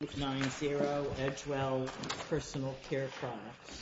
Edgewell Personal Care Products www.EdgewellPersonalCare.com www.EdgewellPersonalCare.com www.EdgewellPersonalCare.com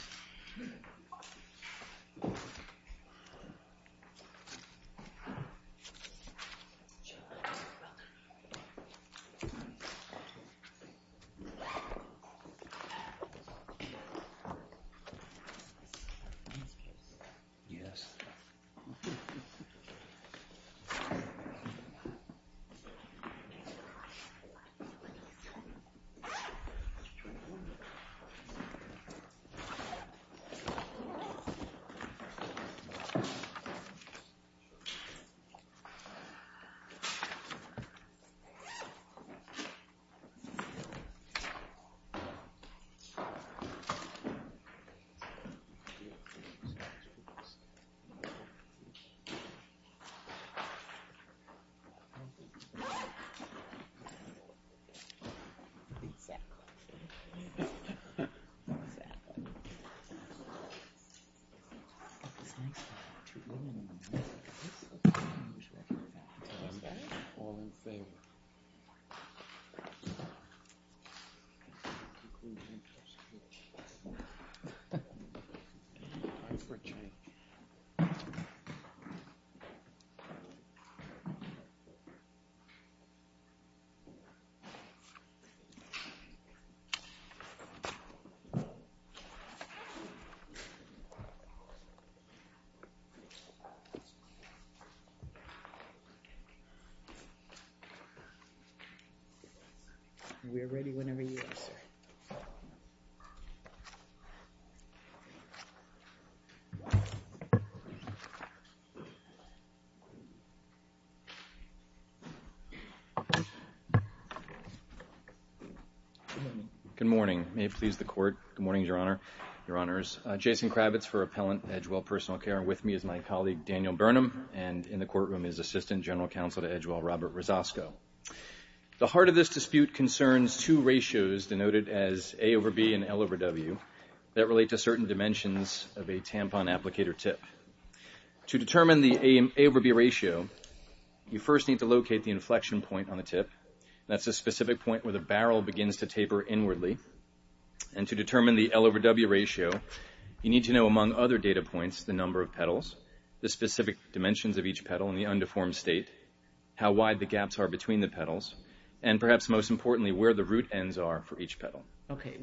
Good morning, may it please the court. Good morning, Your Honor, Your Honors. Jason Kravitz for Appellant Edgewell Personal Care. With me is my colleague, Daniel Burnham, and in the courtroom is Assistant General Counsel to Edgewell, Robert Rosasco. The heart of this dispute concerns two ratios denoted as A over B and L over W that relate to certain dimensions of a tampon applicator tip. To determine the A over B ratio, you first need to locate the inflection point on the tip. That's a specific point where the barrel begins to taper inwardly. And to determine the L over W ratio, you need to know among other data points the number of petals, the specific dimensions of each petal in the undeformed state, how wide the gaps are between the petals, and perhaps most importantly, where the root ends are for each petal. Okay,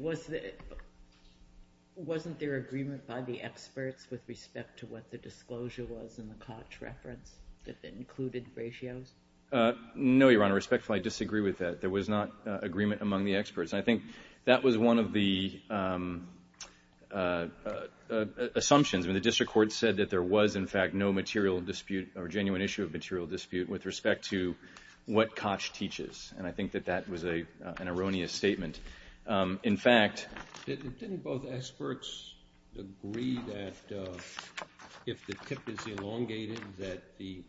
wasn't there agreement by the experts with respect to what the disclosure was in the Koch reference that included ratios? No, Your Honor, respectfully, I disagree with that. There was not agreement among the experts. I think that was one of the assumptions. I mean, the district court said that there was, in fact, no material dispute, or genuine issue of material dispute with respect to what Koch teaches. And I think that that was an erroneous statement. In fact, didn't both experts agree that if the tip is elongated, that the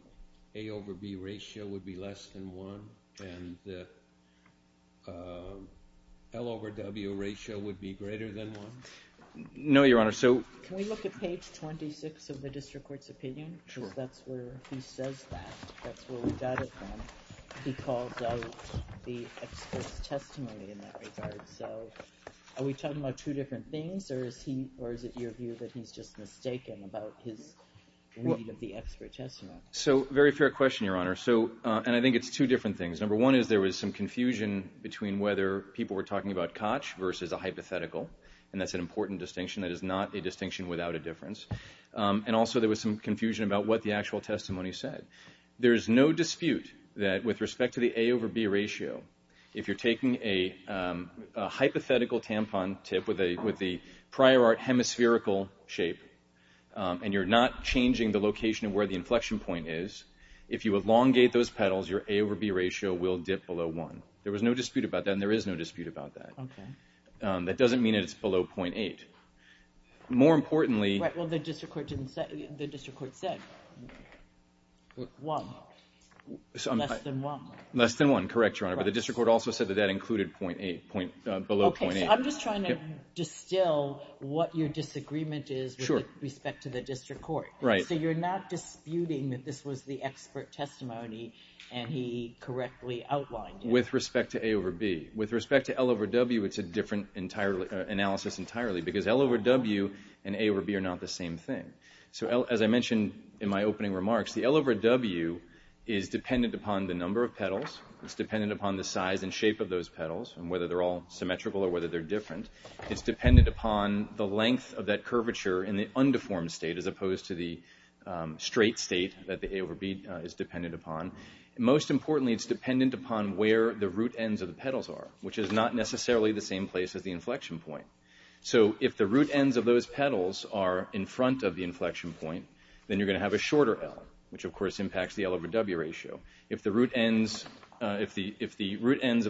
A over B ratio would be less than one? And the L over W ratio would be greater than one? No, Your Honor, so. Can we look at page 26 of the district court's opinion? Sure. Because that's where he says that. That's where we got it from. He calls out the expert's testimony in that regard. So are we talking about two different things, or is it your view that he's just mistaken about his reading of the expert testimony? So, very fair question, Your Honor. So, and I think it's two different things. Number one is there was some confusion between whether people were talking about Koch versus a hypothetical, and that's an important distinction. That is not a distinction without a difference. And also there was some confusion about what the actual testimony said. There is no dispute that with respect to the A over B ratio, if you're taking a hypothetical tampon tip with the prior art hemispherical shape, and you're not changing the location of where the inflection point is, if you elongate those petals, your A over B ratio will dip below one. There was no dispute about that, and there is no dispute about that. That doesn't mean that it's below 0.8. More importantly. Right, well the district court didn't say, the district court said one, less than one. Less than one, correct, Your Honor. But the district court also said that that included below 0.8. Okay, so I'm just trying to distill what your disagreement is with respect to the district court. Right. So you're not disputing that this was the expert testimony, and he correctly outlined it. With respect to A over B. With respect to L over W, it's a different analysis entirely, because L over W and A over B are not the same thing. So as I mentioned in my opening remarks, the L over W is dependent upon the number of petals. It's dependent upon the size and shape of those petals, and whether they're all symmetrical or whether they're different. It's dependent upon the length of that curvature in the undeformed state, as opposed to the straight state that the A over B is dependent upon. Most importantly, it's dependent upon where the root ends of the petals are, which is not necessarily the same place as the inflection point. So if the root ends of those petals are in front of the inflection point, then you're gonna have a shorter L, which of course impacts the L over W ratio. If the root ends of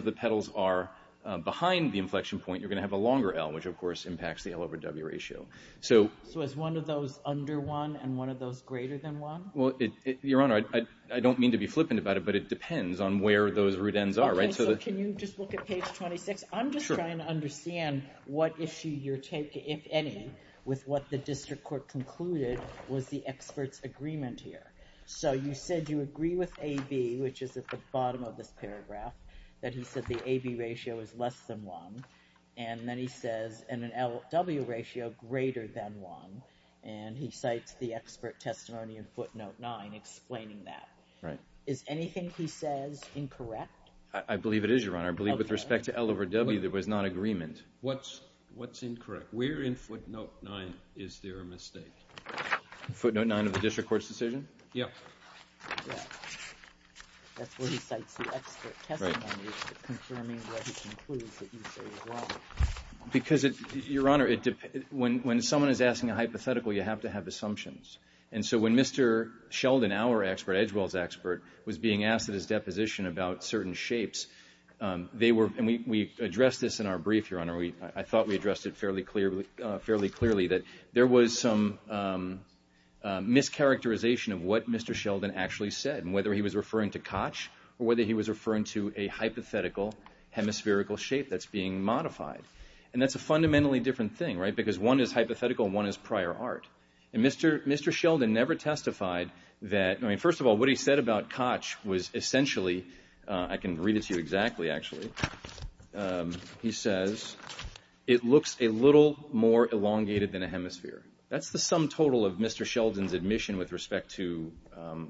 the petals are behind the inflection point, you're gonna have a longer L, which of course impacts the L over W ratio. So is one of those under one, and one of those greater than one? Well, Your Honor, I don't mean to be flippant about it, but it depends on where those root ends are. Okay, so can you just look at page 26? I'm just trying to understand what issue you're taking, if any, with what the district court concluded was the expert's agreement here. So you said you agree with AB, which is at the bottom of this paragraph, that he said the AB ratio is less than one, and then he says an LW ratio greater than one, and he cites the expert testimony in footnote nine explaining that. Is anything he says incorrect? I believe it is, Your Honor. I believe with respect to L over W, there was not agreement. What's incorrect? Where in footnote nine is there a mistake? Footnote nine of the district court's decision? Yeah. That's where he cites the expert testimony, confirming what he concludes that you say as well. Because, Your Honor, when someone is asking a hypothetical, you have to have assumptions. And so when Mr. Sheldon, our expert, Edgewell's expert, was being asked at his deposition about certain shapes, they were, and we addressed this in our brief, Your Honor, I thought we addressed it fairly clearly, that there was some mischaracterization of what Mr. Sheldon actually said, and whether he was referring to Koch, or whether he was referring to a hypothetical hemispherical shape that's being modified. And that's a fundamentally different thing, right? Because one is hypothetical and one is prior art. And Mr. Sheldon never testified that, I mean, first of all, what he said about Koch was essentially, I can read it to you exactly, actually. He says, it looks a little more elongated than a hemisphere. That's the sum total of Mr. Sheldon's admission with respect to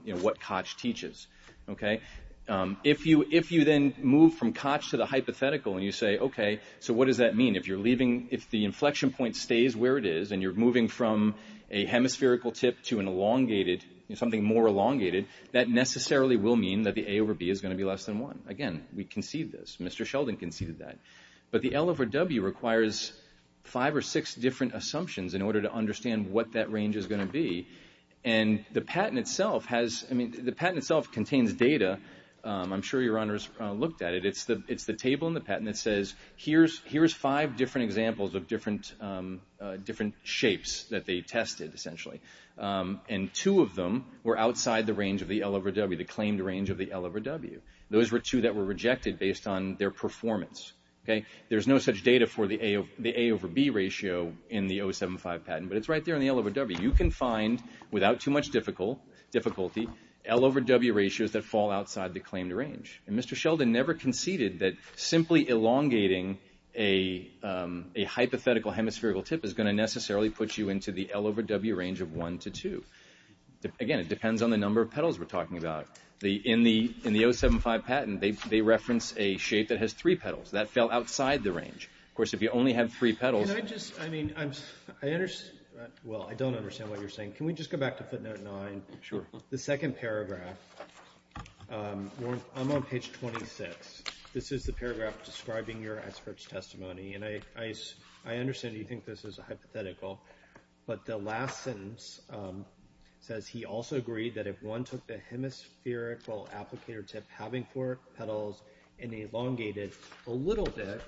what Koch teaches, okay? If you then move from Koch to the hypothetical and you say, okay, so what does that mean? If you're leaving, if the inflection point stays where it is, and you're moving from a hemispherical tip to an elongated, something more elongated, that necessarily will mean that the A over B is gonna be less than one. Again, we concede this, Mr. Sheldon conceded that. But the L over W requires five or six different assumptions in order to understand what that range is gonna be. And the patent itself has, I mean, the patent itself contains data. I'm sure your honors looked at it. It's the table in the patent that says, here's five different examples of different shapes that they tested, essentially. And two of them were outside the range of the L over W, the claimed range of the L over W. Those were two that were rejected based on their performance, okay? There's no such data for the A over B ratio in the 075 patent, but it's right there in the L over W. You can find, without too much difficulty, L over W ratios that fall outside the claimed range. And Mr. Sheldon never conceded that simply elongating a hypothetical hemispherical tip is gonna necessarily put you into the L over W range of one to two. Again, it depends on the number of petals we're talking about. In the 075 patent, they reference a shape that has three petals, that fell outside the range. Of course, if you only have three petals. Can I just, I mean, I understand, well, I don't understand what you're saying. Can we just go back to footnote nine? Sure. The second paragraph, I'm on page 26. This is the paragraph describing your expert's testimony, and I understand you think this is a hypothetical, but the last sentence says he also agreed that if one took the hemispherical applicator tip having four petals and elongated a little bit,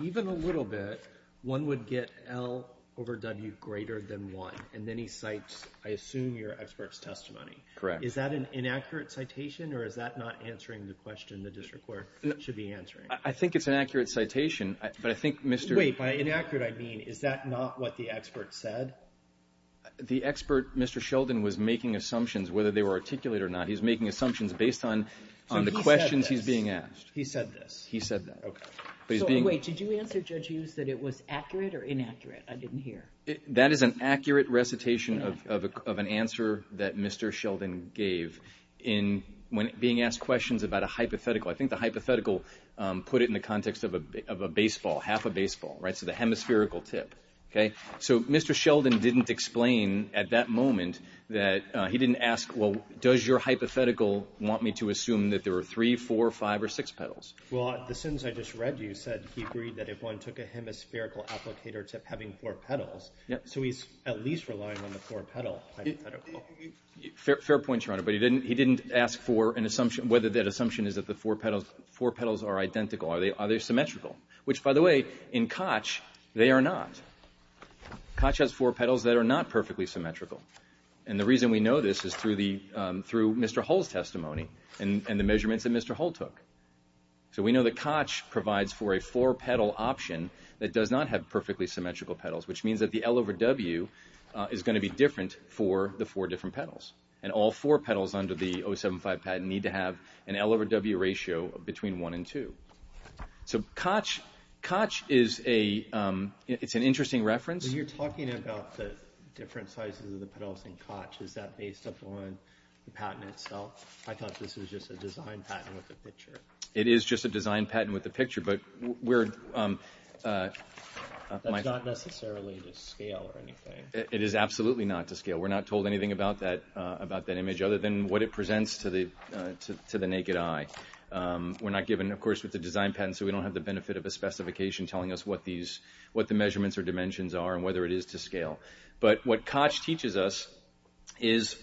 even a little bit, one would get L over W greater than one. And then he cites, I assume, your expert's testimony. Correct. Is that an inaccurate citation, or is that not answering the question the district court should be answering? I think it's an accurate citation, but I think Mr. Wait, by inaccurate I mean, is that not what the expert said? The expert, Mr. Sheldon, was making assumptions, whether they were articulated or not. He's making assumptions based on the questions he's being asked. He said this. He said that. So, wait, did you answer, Judge Hughes, that it was accurate or inaccurate? I didn't hear. That is an accurate recitation of an answer that Mr. Sheldon gave in being asked questions about a hypothetical. I think the hypothetical put it in the context of a baseball, half a baseball, right? So the hemispherical tip, okay? So Mr. Sheldon didn't explain at that moment that he didn't ask, well, does your hypothetical want me to assume that there were three, four, five, or six petals? Well, the sentence I just read you said he agreed that if one took a hemispherical applicator tip having four petals, so he's at least relying on the four petal hypothetical. Fair point, Your Honor, but he didn't ask for an assumption, whether that assumption is that the four petals are identical. Are they symmetrical? Which, by the way, in Koch, they are not. Koch has four petals that are not perfectly symmetrical. And the reason we know this is through Mr. Hull's testimony and the measurements that Mr. Hull took. So we know that Koch provides for a four petal option that does not have perfectly symmetrical petals, which means that the L over W is gonna be different for the four different petals. And all four petals under the 075 patent need to have an L over W ratio between one and two. So Koch, Koch is a, it's an interesting reference. You're talking about the different sizes of the petals in Koch. I thought this was just a design patent with a picture. It is just a design patent with a picture, but we're, my. That's not necessarily to scale or anything. It is absolutely not to scale. We're not told anything about that image other than what it presents to the naked eye. We're not given, of course, with the design patent, so we don't have the benefit of a specification telling us what the measurements or dimensions are and whether it is to scale. But what Koch teaches us is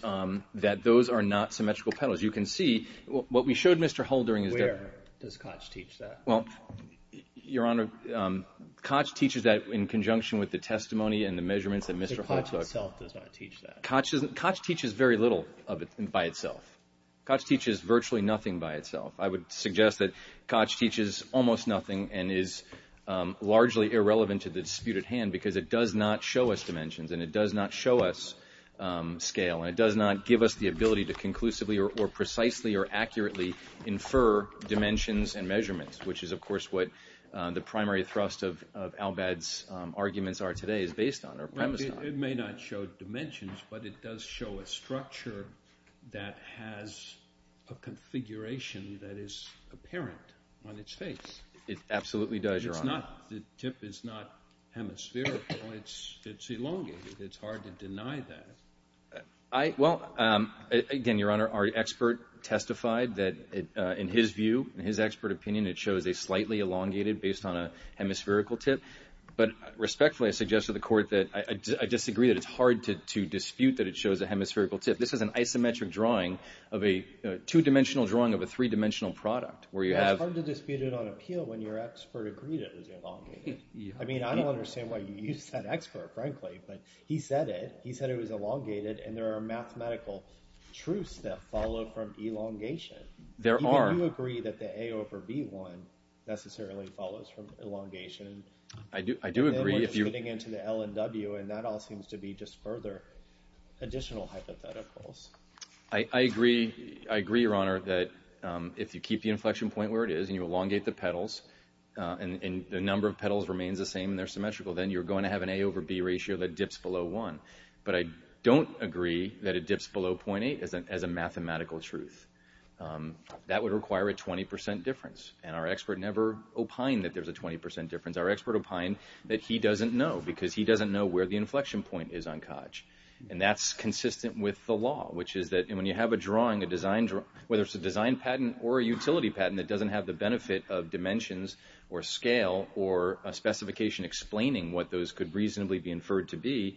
that those are not symmetrical petals. You can see, what we showed Mr. Hull during his. Where does Koch teach that? Well, Your Honor, Koch teaches that in conjunction with the testimony and the measurements that Mr. Hull took. So Koch itself does not teach that? Koch teaches very little of it by itself. Koch teaches virtually nothing by itself. I would suggest that Koch teaches almost nothing and is largely irrelevant to the dispute at hand because it does not show us dimensions and it does not show us scale and it does not give us the ability to conclusively or precisely or accurately infer dimensions and measurements, which is, of course, what the primary thrust of Al-Bad's arguments are today is based on or premised on. It may not show dimensions, but it does show a structure that has a configuration that is apparent on its face. It absolutely does, Your Honor. The tip is not hemispherical, it's elongated. It's hard to deny that. I, well, again, Your Honor, our expert testified that in his view, in his expert opinion, it shows a slightly elongated based on a hemispherical tip. But respectfully, I suggest to the court that I disagree that it's hard to dispute that it shows a hemispherical tip. This is an isometric drawing of a, two-dimensional drawing of a three-dimensional product where you have- It's hard to dispute it on appeal when your expert agreed it was elongated. I mean, I don't understand why you use that expert, frankly, but he said it. He said it was elongated, and there are mathematical truths that follow from elongation. There are- Do you agree that the A over B one necessarily follows from elongation? I do agree, if you- Then we're just getting into the L and W, and that all seems to be just further additional hypotheticals. I agree, Your Honor, that if you keep the inflection point where it is and you elongate the petals, and the number of petals remains the same and they're symmetrical, then you're going to have an A over B ratio that dips below one. But I don't agree that it dips below .8 as a mathematical truth. That would require a 20% difference, and our expert never opined that there's a 20% difference. Our expert opined that he doesn't know, because he doesn't know where the inflection point is on Koch. And that's consistent with the law, which is that when you have a drawing, a design- Whether it's a design patent or a utility patent that doesn't have the benefit of dimensions or scale or a specification explaining what those could reasonably be inferred to be,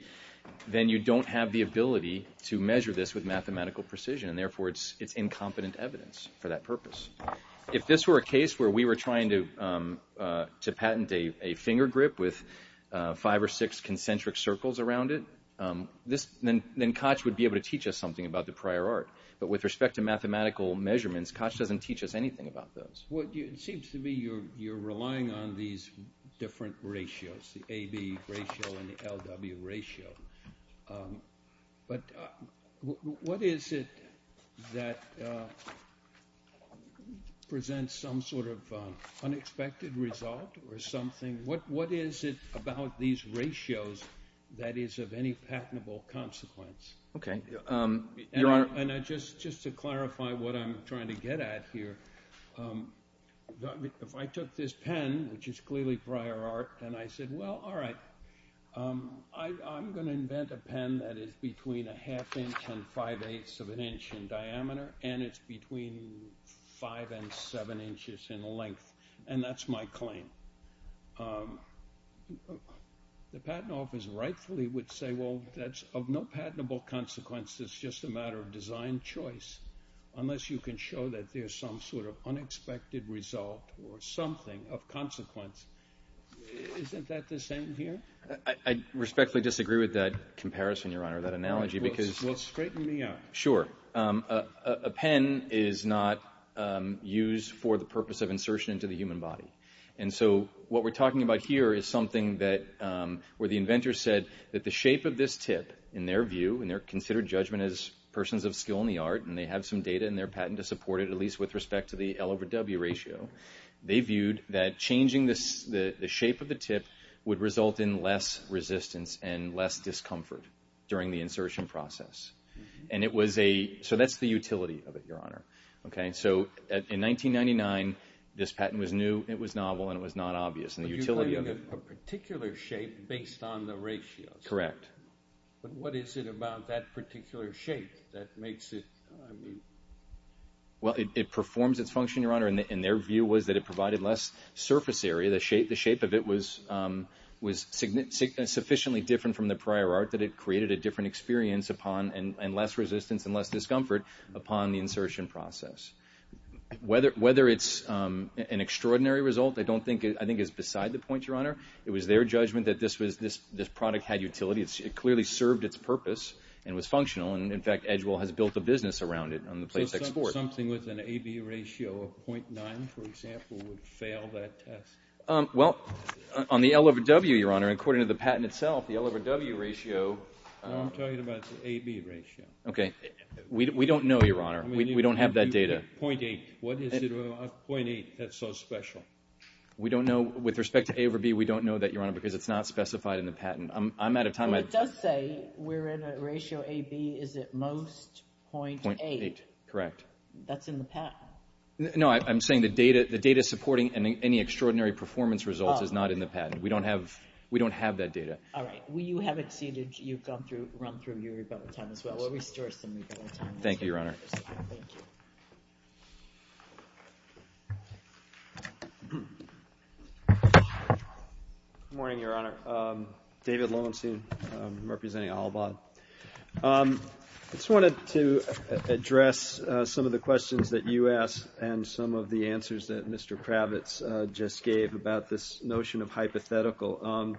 then you don't have the ability to measure this with mathematical precision. And therefore, it's incompetent evidence for that purpose. If this were a case where we were trying to patent a finger grip with five or six concentric circles around it, then Koch would be able to teach us something about the prior art. But with respect to mathematical measurements, Koch doesn't teach us anything about those. Well, it seems to me you're relying on these different ratios, the AB ratio and the LW ratio. But what is it that presents some sort of unexpected result or something? What is it about these ratios that is of any patentable consequence? Okay, Your Honor- And just to clarify what I'm trying to get at here, if I took this pen, which is clearly prior art, and I said, well, all right, I'm gonna invent a pen that is between a half-inch and five-eighths of an inch in diameter, and it's between five and seven inches in length. And that's my claim. The patent office rightfully would say, well, that's of no patentable consequence. It's just a matter of design choice, unless you can show that there's some sort of unexpected result or something of consequence. Isn't that the same here? I respectfully disagree with that comparison, Your Honor, that analogy, because- Well, straighten me out. Sure. A pen is not used for the purpose of insertion into the human body. And so what we're talking about here is something where the inventor said that the shape of this tip, in their view, and they're considered judgment as persons of skill in the art, and they have some data in their patent to support it, at least with respect to the L over W ratio. They viewed that changing the shape of the tip would result in less resistance and less discomfort during the insertion process. And it was a, so that's the utility of it, Your Honor, okay? So in 1999, this patent was new, it was novel, and it was not obvious, and the utility of it- But you're claiming a particular shape based on the ratios. Correct. that makes it, I mean? Well, it performs its function, Your Honor, and their view was that it provided less surface area, the shape of it was sufficiently different from the prior art that it created a different experience upon, and less resistance and less discomfort upon the insertion process. Whether it's an extraordinary result, I don't think, I think it's beside the point, Your Honor. It was their judgment that this product had utility, it clearly served its purpose, and was functional, and in fact, Edgewell has built a business around it on the place export. Something with an AB ratio of 0.9, for example, would fail that test? Well, on the L over W, Your Honor, according to the patent itself, the L over W ratio- I'm talking about the AB ratio. Okay, we don't know, Your Honor, we don't have that data. 0.8, what is it about 0.8 that's so special? We don't know, with respect to A over B, we don't know that, Your Honor, because it's not specified in the patent. I'm out of time, I- Well, it does say we're in a ratio, AB is at most 0.8. Correct. That's in the patent. No, I'm saying the data supporting any extraordinary performance results is not in the patent. We don't have that data. All right, well, you have exceeded, you've gone through, run through your rebuttal time as well. We'll restore some rebuttal time. Thank you, Your Honor. Thank you. Good morning, Your Honor. David Lowenstein, I'm representing Alibod. I just wanted to address some of the questions that you asked and some of the answers that Mr. Kravitz just gave about this notion of hypothetical.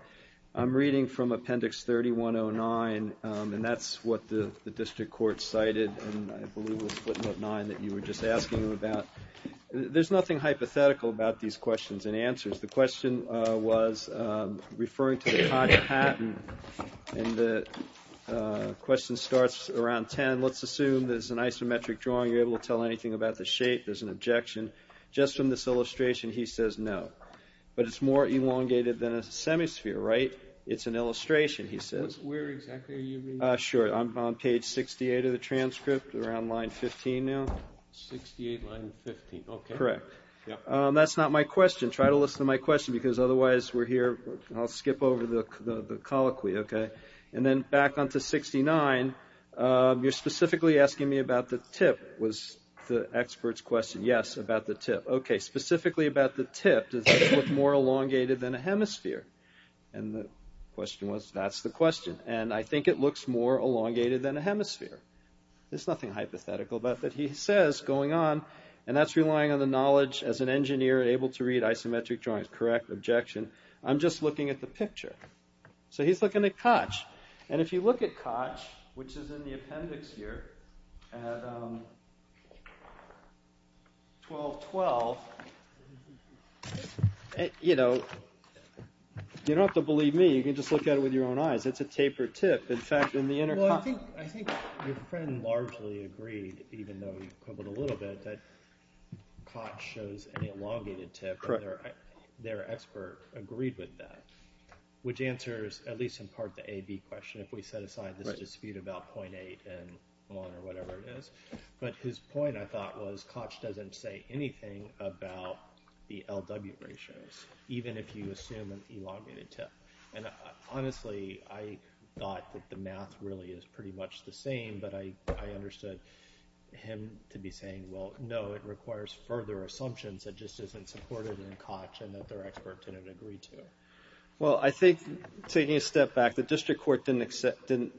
I'm reading from Appendix 3109, and that's what the district court cited, and I believe it was footnote nine that you were just asking about. There's nothing hypothetical about these questions and answers. The question was referring to the time of patent and the question starts around 10. Let's assume there's an isometric drawing. You're able to tell anything about the shape. There's an objection. Just from this illustration, he says no, but it's more elongated than a semisphere, right? It's an illustration, he says. Where exactly are you reading? Sure, I'm on page 68 of the transcript, around line 15 now. 68, line 15, okay. Correct. Yeah. That's not my question. Try to listen to my question because otherwise we're here, I'll skip over the colloquy, okay? And then back onto 69, you're specifically asking me about the tip, was the expert's question. Yes, about the tip. Okay, specifically about the tip, does this look more elongated than a hemisphere? And the question was, that's the question, and I think it looks more elongated than a hemisphere. There's nothing hypothetical about that he says going on, and that's relying on the knowledge as an engineer able to read isometric drawings. Correct, objection. I'm just looking at the picture. So he's looking at Koch, and if you look at Koch, which is in the appendix here, at 12.12, you know, you don't have to believe me, you can just look at it with your own eyes. It's a tapered tip. In fact, in the intercom. I think your friend largely agreed, even though you quibbled a little bit, that Koch shows an elongated tip. Correct. Their expert agreed with that, which answers, at least in part, the A, B question, if we set aside this dispute about 0.8 and one, or whatever it is. But his point, I thought, was Koch doesn't say anything about the LW ratios, even if you assume an elongated tip. And honestly, I thought that the math really is pretty much the same, but I understood him to be saying, well, no, it requires further assumptions. It just isn't supported in Koch, and that their expert didn't agree to it. Well, I think, taking a step back, the district court didn't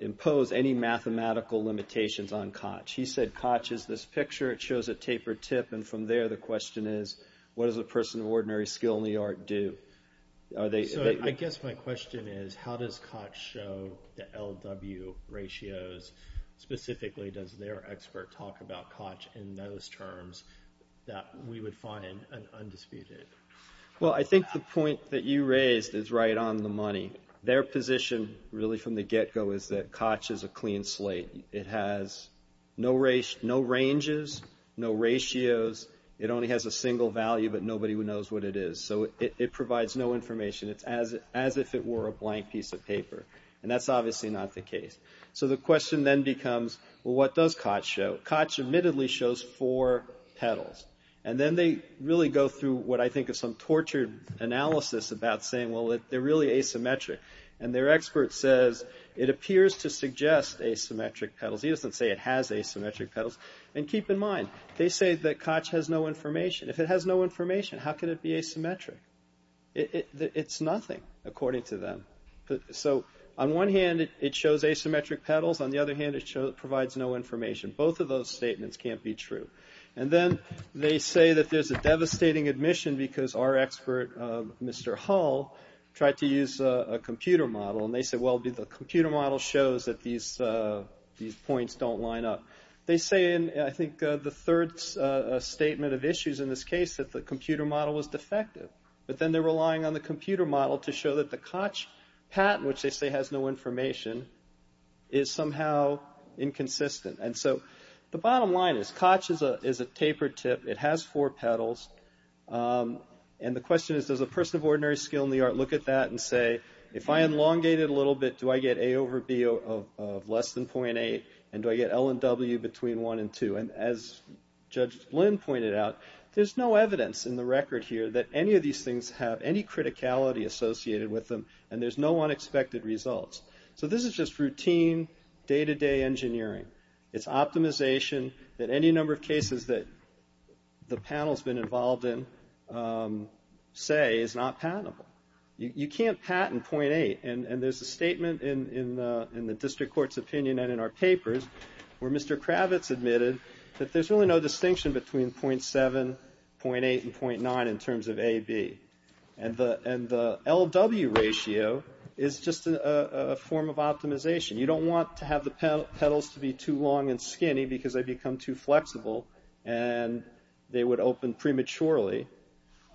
impose any mathematical limitations on Koch. He said, Koch is this picture, it shows a tapered tip, and from there, the question is, what does a person of ordinary skill in the art do? Are they- So, I guess my question is, how does Koch show the LW ratios? Specifically, does their expert talk about Koch in those terms that we would find undisputed? Well, I think the point that you raised is right on the money. Their position, really from the get-go, is that Koch is a clean slate. It has no ranges, no ratios, it only has a single value, but nobody knows what it is. So, it provides no information. It's as if it were a blank piece of paper. And that's obviously not the case. So, the question then becomes, well, what does Koch show? Koch shows four petals. And then they really go through what I think is some tortured analysis about saying, well, they're really asymmetric. And their expert says, it appears to suggest asymmetric petals. He doesn't say it has asymmetric petals. And keep in mind, they say that Koch has no information. If it has no information, how can it be asymmetric? It's nothing, according to them. So, on one hand, it shows asymmetric petals. On the other hand, it provides no information. Both of those statements can't be true. And then they say that there's a devastating admission because our expert, Mr. Hull, tried to use a computer model. And they said, well, the computer model shows that these points don't line up. They say in, I think, the third statement of issues in this case, that the computer model was defective. But then they're relying on the computer model to show that the Koch patent, which they say has no information, is somehow inconsistent. And so, the bottom line is, Koch is a tapered tip. It has four petals. And the question is, does a person of ordinary skill in the art look at that and say, if I elongate it a little bit, do I get A over B of less than 0.8? And do I get L and W between one and two? And as Judge Lynn pointed out, there's no evidence in the record here that any of these things have any criticality associated with them. And there's no unexpected results. So this is just routine, day-to-day engineering. It's optimization that any number of cases that the panel's been involved in say is not patentable. You can't patent 0.8. And there's a statement in the district court's opinion and in our papers, where Mr. Kravitz admitted that there's really no distinction between 0.7, 0.8, and 0.9 in terms of A, B. And the LW ratio is just a form of optimization. You don't want to have the petals to be too long and skinny because they become too flexible and they would open prematurely.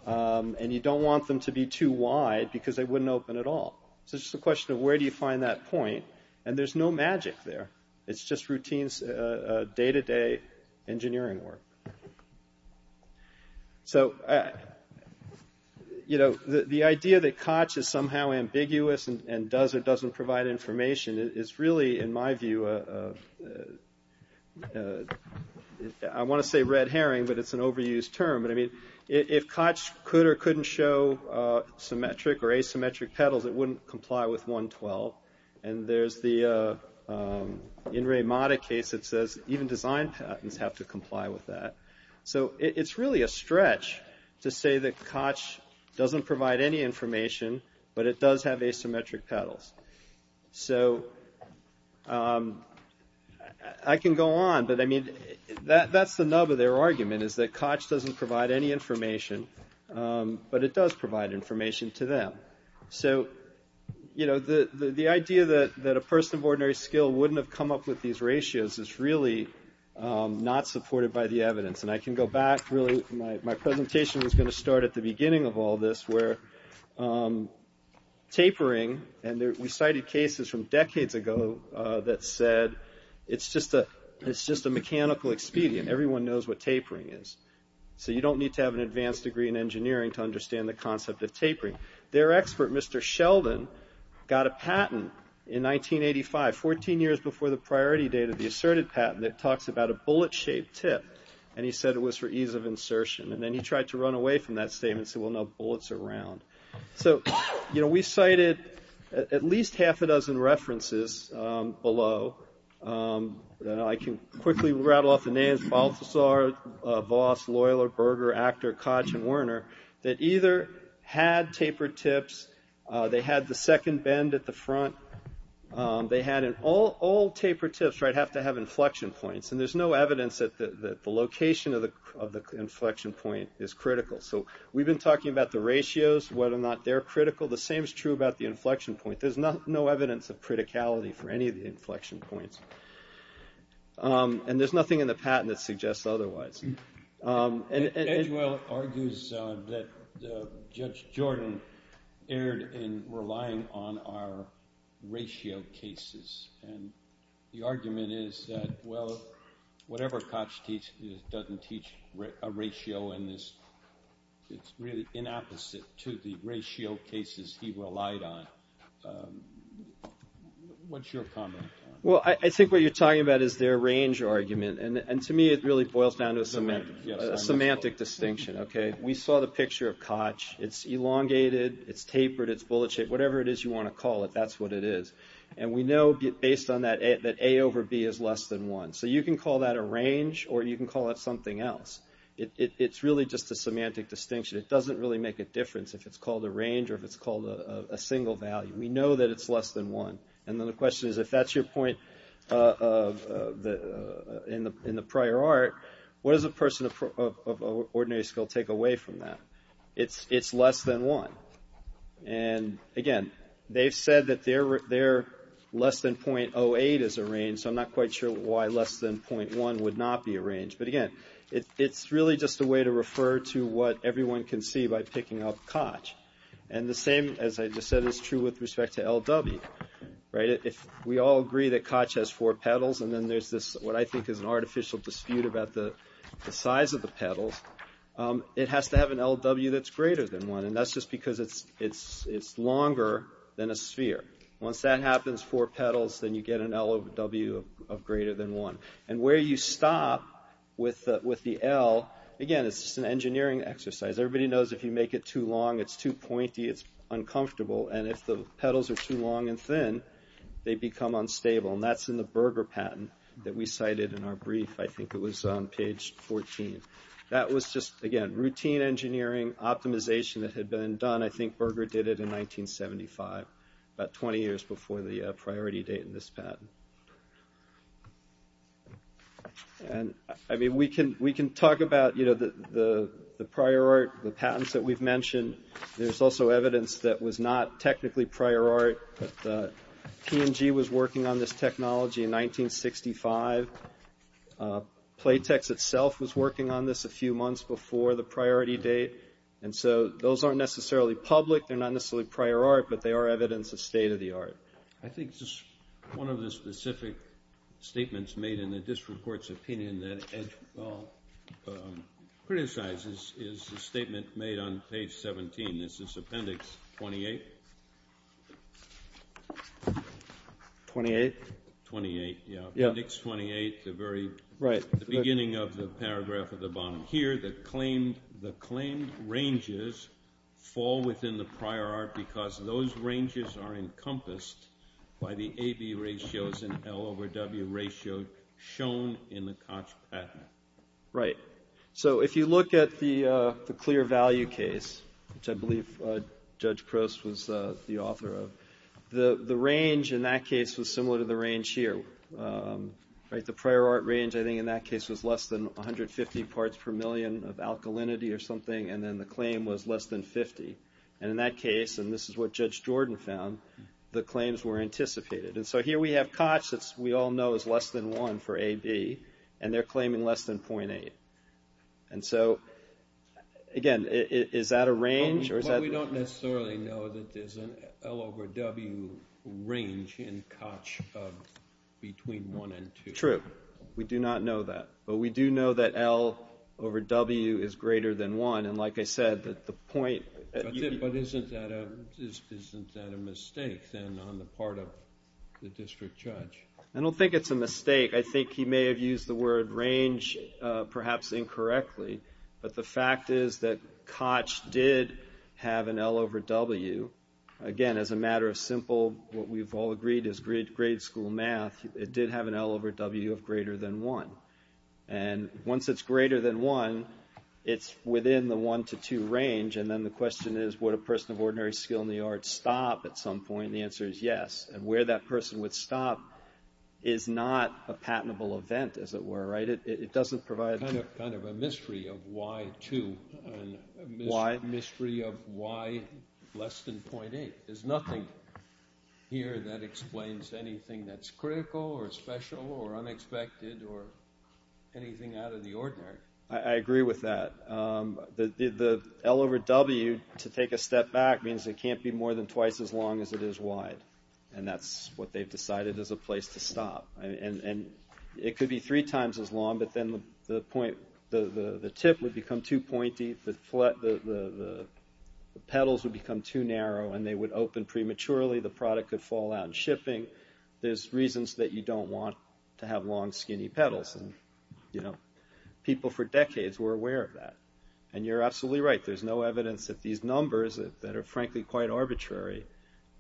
And you don't want them to be too wide because they wouldn't open at all. So it's just a question of where do you find that point? And there's no magic there. It's just routine, day-to-day engineering work. So, you know, the idea that Koch is somehow ambiguous and does or doesn't provide information is really, in my view, I want to say red herring, but it's an overused term. But I mean, if Koch could or couldn't show symmetric or asymmetric petals, it wouldn't comply with 112. And there's the In Re Mata case that says even design patents have to comply with that. So it's really a stretch to say that Koch doesn't provide any information, but it does have asymmetric petals. So I can go on, but I mean, that's the nub of their argument is that Koch doesn't provide any information, but it does provide information to them. So, you know, the idea that a person of ordinary skill wouldn't have come up with these ratios is really not supported by the evidence. And I can go back, really, my presentation is gonna start at the beginning of all this, where tapering, and we cited cases from decades ago that said it's just a mechanical expedient. Everyone knows what tapering is. So you don't need to have an advanced degree in engineering to understand the concept of tapering. Their expert, Mr. Sheldon, got a patent in 1985, 14 years before the priority data, the Asserted Patent, that talks about a bullet-shaped tip. And he said it was for ease of insertion. And then he tried to run away from that statement, said, well, no, bullets are round. So, you know, we cited at least half a dozen references below, and I can quickly rattle off the names, Balthasar, Voss, Loyler, Berger, Actor, Koch, and Werner, that either had tapered tips, they had the second bend at the front, they had all tapered tips, right? So you have to have inflection points. And there's no evidence that the location of the inflection point is critical. So we've been talking about the ratios, whether or not they're critical. The same is true about the inflection point. There's no evidence of criticality for any of the inflection points. And there's nothing in the patent that suggests otherwise. And Eduel argues that Judge Jordan erred in relying on our ratio cases. And the argument is that, well, whatever Koch teaches doesn't teach a ratio in this, it's really in opposite to the ratio cases he relied on. What's your comment on that? Well, I think what you're talking about is their range argument. And to me, it really boils down to a semantic distinction. Okay, we saw the picture of Koch. It's elongated, it's tapered, it's bullet shaped, whatever it is you want to call it, that's what it is. And we know, based on that, that A over B is less than one. So you can call that a range, or you can call it something else. It's really just a semantic distinction. It doesn't really make a difference if it's called a range or if it's called a single value. We know that it's less than one. And then the question is, if that's your point in the prior art, what does a person of ordinary skill take away from that? It's less than one. And again, they've said that their less than .08 is a range so I'm not quite sure why less than .1 would not be a range. But again, it's really just a way to refer to what everyone can see by picking up Koch. And the same, as I just said, is true with respect to LW. We all agree that Koch has four pedals and then there's this, what I think is an artificial dispute about the size of the pedals. It has to have an LW that's greater than one. And that's just because it's longer than a sphere. Once that happens, four pedals, then you get an LW of greater than one. And where you stop with the L, again, it's just an engineering exercise. Everybody knows if you make it too long, it's too pointy, it's uncomfortable. And if the pedals are too long and thin, they become unstable. And that's in the Berger patent that we cited in our brief. I think it was on page 14. That was just, again, routine engineering optimization that had been done. I think Berger did it in 1975, about 20 years before the priority date in this patent. And I mean, we can talk about the prior art, the patents that we've mentioned. There's also evidence that was not technically prior art, but P&G was working on this technology in 1965. Playtex itself was working on this a few months before the priority date. And so those aren't necessarily public, they're not necessarily prior art, but they are evidence of state-of-the-art. I think just one of the specific statements made in the district court's opinion that Edgewell criticizes is the statement made on page 17. This is Appendix 28. 28? 28, yeah. Appendix 28, the very beginning of the paragraph at the bottom. Here, the claimed ranges fall within the prior art because those ranges are encompassed by the AB ratios and L over W ratio shown in the Koch patent. Right. So if you look at the clear value case, which I believe Judge Crouse was the author of, the range in that case was similar to the range here. The prior art range, I think, in that case was less than 150 parts per million of alkalinity or something, and then the claim was less than 50. And in that case, and this is what Judge Jordan found, the claims were anticipated. And so here we have Koch that we all know is less than one for AB, and they're claiming less than 0.8. And so, again, is that a range, or is that? Well, we don't necessarily know that there's an L over W range in Koch of between one and two. It's pretty true. We do not know that. But we do know that L over W is greater than one. And like I said, that the point. But isn't that a mistake, then, on the part of the district judge? I don't think it's a mistake. I think he may have used the word range, perhaps incorrectly. But the fact is that Koch did have an L over W. Again, as a matter of simple, what we've all agreed is grade school math, it did have an L over W of greater than one. And once it's greater than one, it's within the one to two range. And then the question is, would a person of ordinary skill in the arts stop at some point? And the answer is yes. And where that person would stop is not a patentable event, as it were, right? It doesn't provide. Kind of a mystery of why two. Why? Mystery of why less than 0.8. There's nothing here that explains anything that's critical or special or unexpected or anything out of the ordinary. I agree with that. The L over W, to take a step back, means it can't be more than twice as long as it is wide. And that's what they've decided as a place to stop. And it could be three times as long, but then the point, the tip would become too pointy, the petals would become too narrow and they would open prematurely, the product could fall out in shipping. There's reasons that you don't want to have long, skinny petals. People for decades were aware of that. And you're absolutely right. There's no evidence that these numbers, that are frankly quite arbitrary,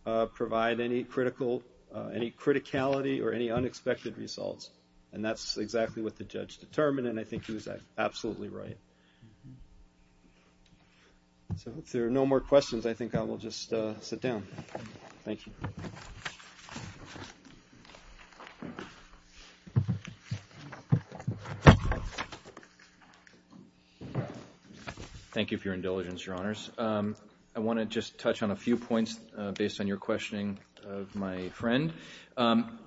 provide any criticality or any unexpected results. And that's exactly what the judge determined and I think he was absolutely right. So if there are no more questions, I think I will just sit down. Thank you. Thank you for your indulgence, your honors. I want to just touch on a few points based on your questioning of my friend.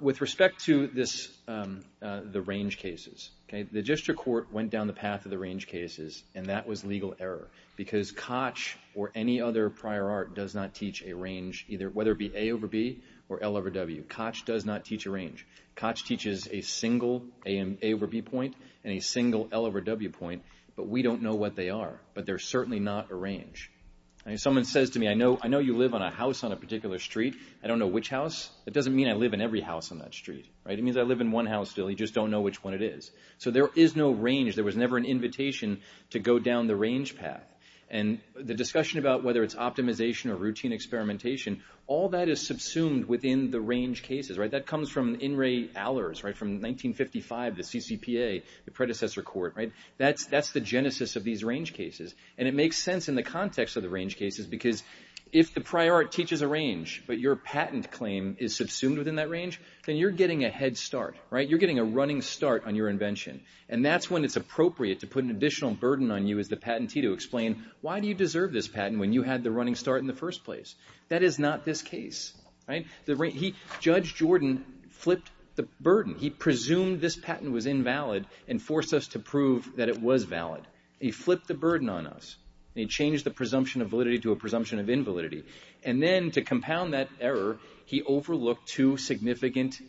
With respect to the range cases, the district court went down the path of the range cases and that was legal error. Because Koch or any other prior art does not teach a range, whether it be A over B or L over W. Koch does not teach a range. Koch teaches a single A over B point and a single L over W point, but we don't know what they are. But they're certainly not a range. Someone says to me, I know you live on a house on a particular street, I don't know which house. That doesn't mean I live in every house on that street. It means I live in one house still, you just don't know which one it is. So there is no range, there was never an invitation to go down the range path. And the discussion about whether it's optimization or routine experimentation, all that is subsumed within the range cases. That comes from In re Allers, from 1955, the CCPA, the predecessor court. That's the genesis of these range cases. And it makes sense in the context of the range cases because if the prior art teaches a range, but your patent claim is subsumed within that range, then you're getting a head start. You're getting a running start on your invention. And that's when it's appropriate to put an additional burden on you as the patentee to explain why do you deserve this patent when you had the running start in the first place? That is not this case, right? Judge Jordan flipped the burden. He presumed this patent was invalid and forced us to prove that it was valid. He flipped the burden on us. He changed the presumption of validity to a presumption of invalidity. And then to compound that error, he overlooked two significant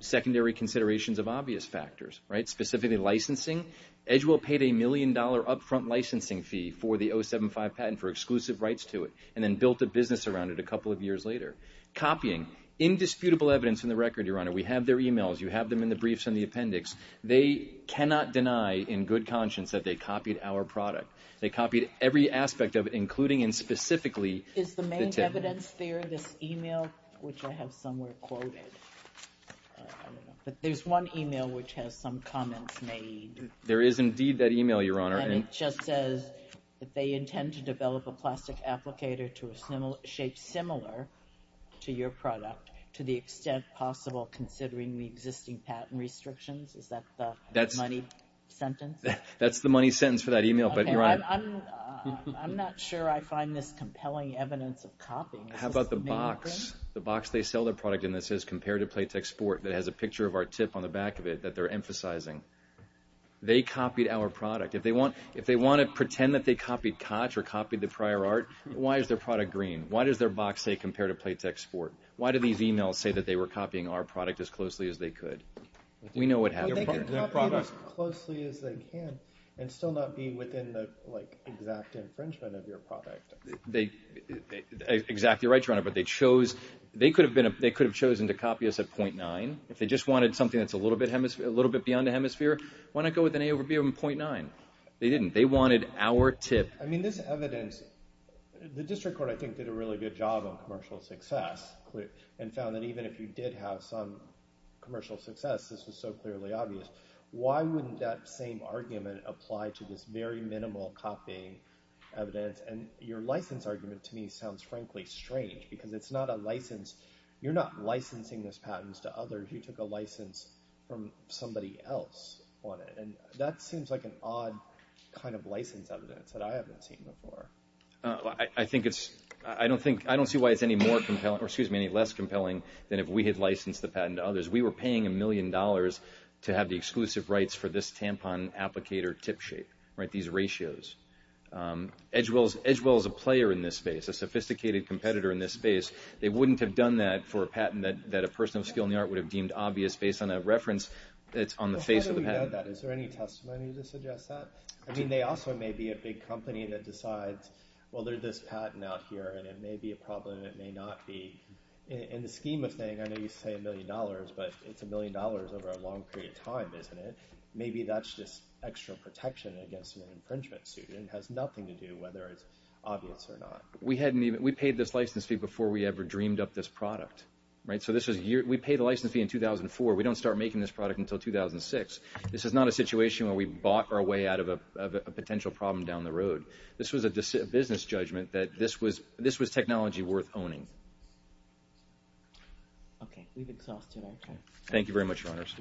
secondary considerations of obvious factors, right? Specifically licensing. Edgewell paid a million dollar upfront licensing fee for the 075 patent for exclusive rights to it and then built a business around it a couple of years later. Copying. Indisputable evidence in the record, Your Honor. We have their emails. You have them in the briefs and the appendix. They cannot deny in good conscience that they copied our product. They copied every aspect of it, including and specifically the tip. Is the main evidence there, this email, which I have somewhere quoted? But there's one email which has some comments made. There is indeed that email, Your Honor. And it just says that they intend to develop a plastic applicator to a shape similar to your product to the extent possible considering the existing patent restrictions. Is that the money sentence? That's the money sentence for that email, but Your Honor. I'm not sure I find this compelling evidence of copying. How about the box? The box they sell their product in that says compare to Playtex Sport that has a picture of our tip on the back of it that they're emphasizing. They copied our product. If they want to pretend that they copied Kotch or copied the prior art, why is their product green? Why does their box say compare to Playtex Sport? Why do these emails say that they were copying our product as closely as they could? We know what happened. They could copy it as closely as they can and still not be within the exact infringement of your product. Exactly right, Your Honor. But they could have chosen to copy us at 0.9. If they just wanted something that's a little bit beyond the hemisphere, why not go with an A over B of 0.9? They didn't. They wanted our tip. I mean this evidence, the district court I think did a really good job on commercial success and found that even if you did have some commercial success this was so clearly obvious. Why wouldn't that same argument apply to this very minimal copying evidence? And your license argument to me sounds frankly strange because it's not a license. You're not licensing those patents to others. What if you took a license from somebody else on it? And that seems like an odd kind of license evidence that I haven't seen before. I don't see why it's any more compelling, or excuse me, any less compelling than if we had licensed the patent to others. We were paying a million dollars to have the exclusive rights for this tampon applicator tip shape, these ratios. Edgewell is a player in this space, a sophisticated competitor in this space. They wouldn't have done that for a patent that a person of skill in the art would have deemed obvious based on a reference that's on the face of the patent. Well how do we know that? Is there any testimony to suggest that? I mean they also may be a big company that decides, well there's this patent out here and it may be a problem, it may not be. In the scheme of things, I know you say a million dollars, but it's a million dollars over a long period of time, isn't it? Maybe that's just extra protection against an infringement suit. It has nothing to do whether it's obvious or not. We paid this license fee before we ever dreamed up this product, right? So this was, we paid the license fee in 2004. We don't start making this product until 2006. This is not a situation where we bought our way out of a potential problem down the road. This was a business judgment that this was technology worth owning. Okay, we've exhausted our time. Thank you very much, your honors. Thank you.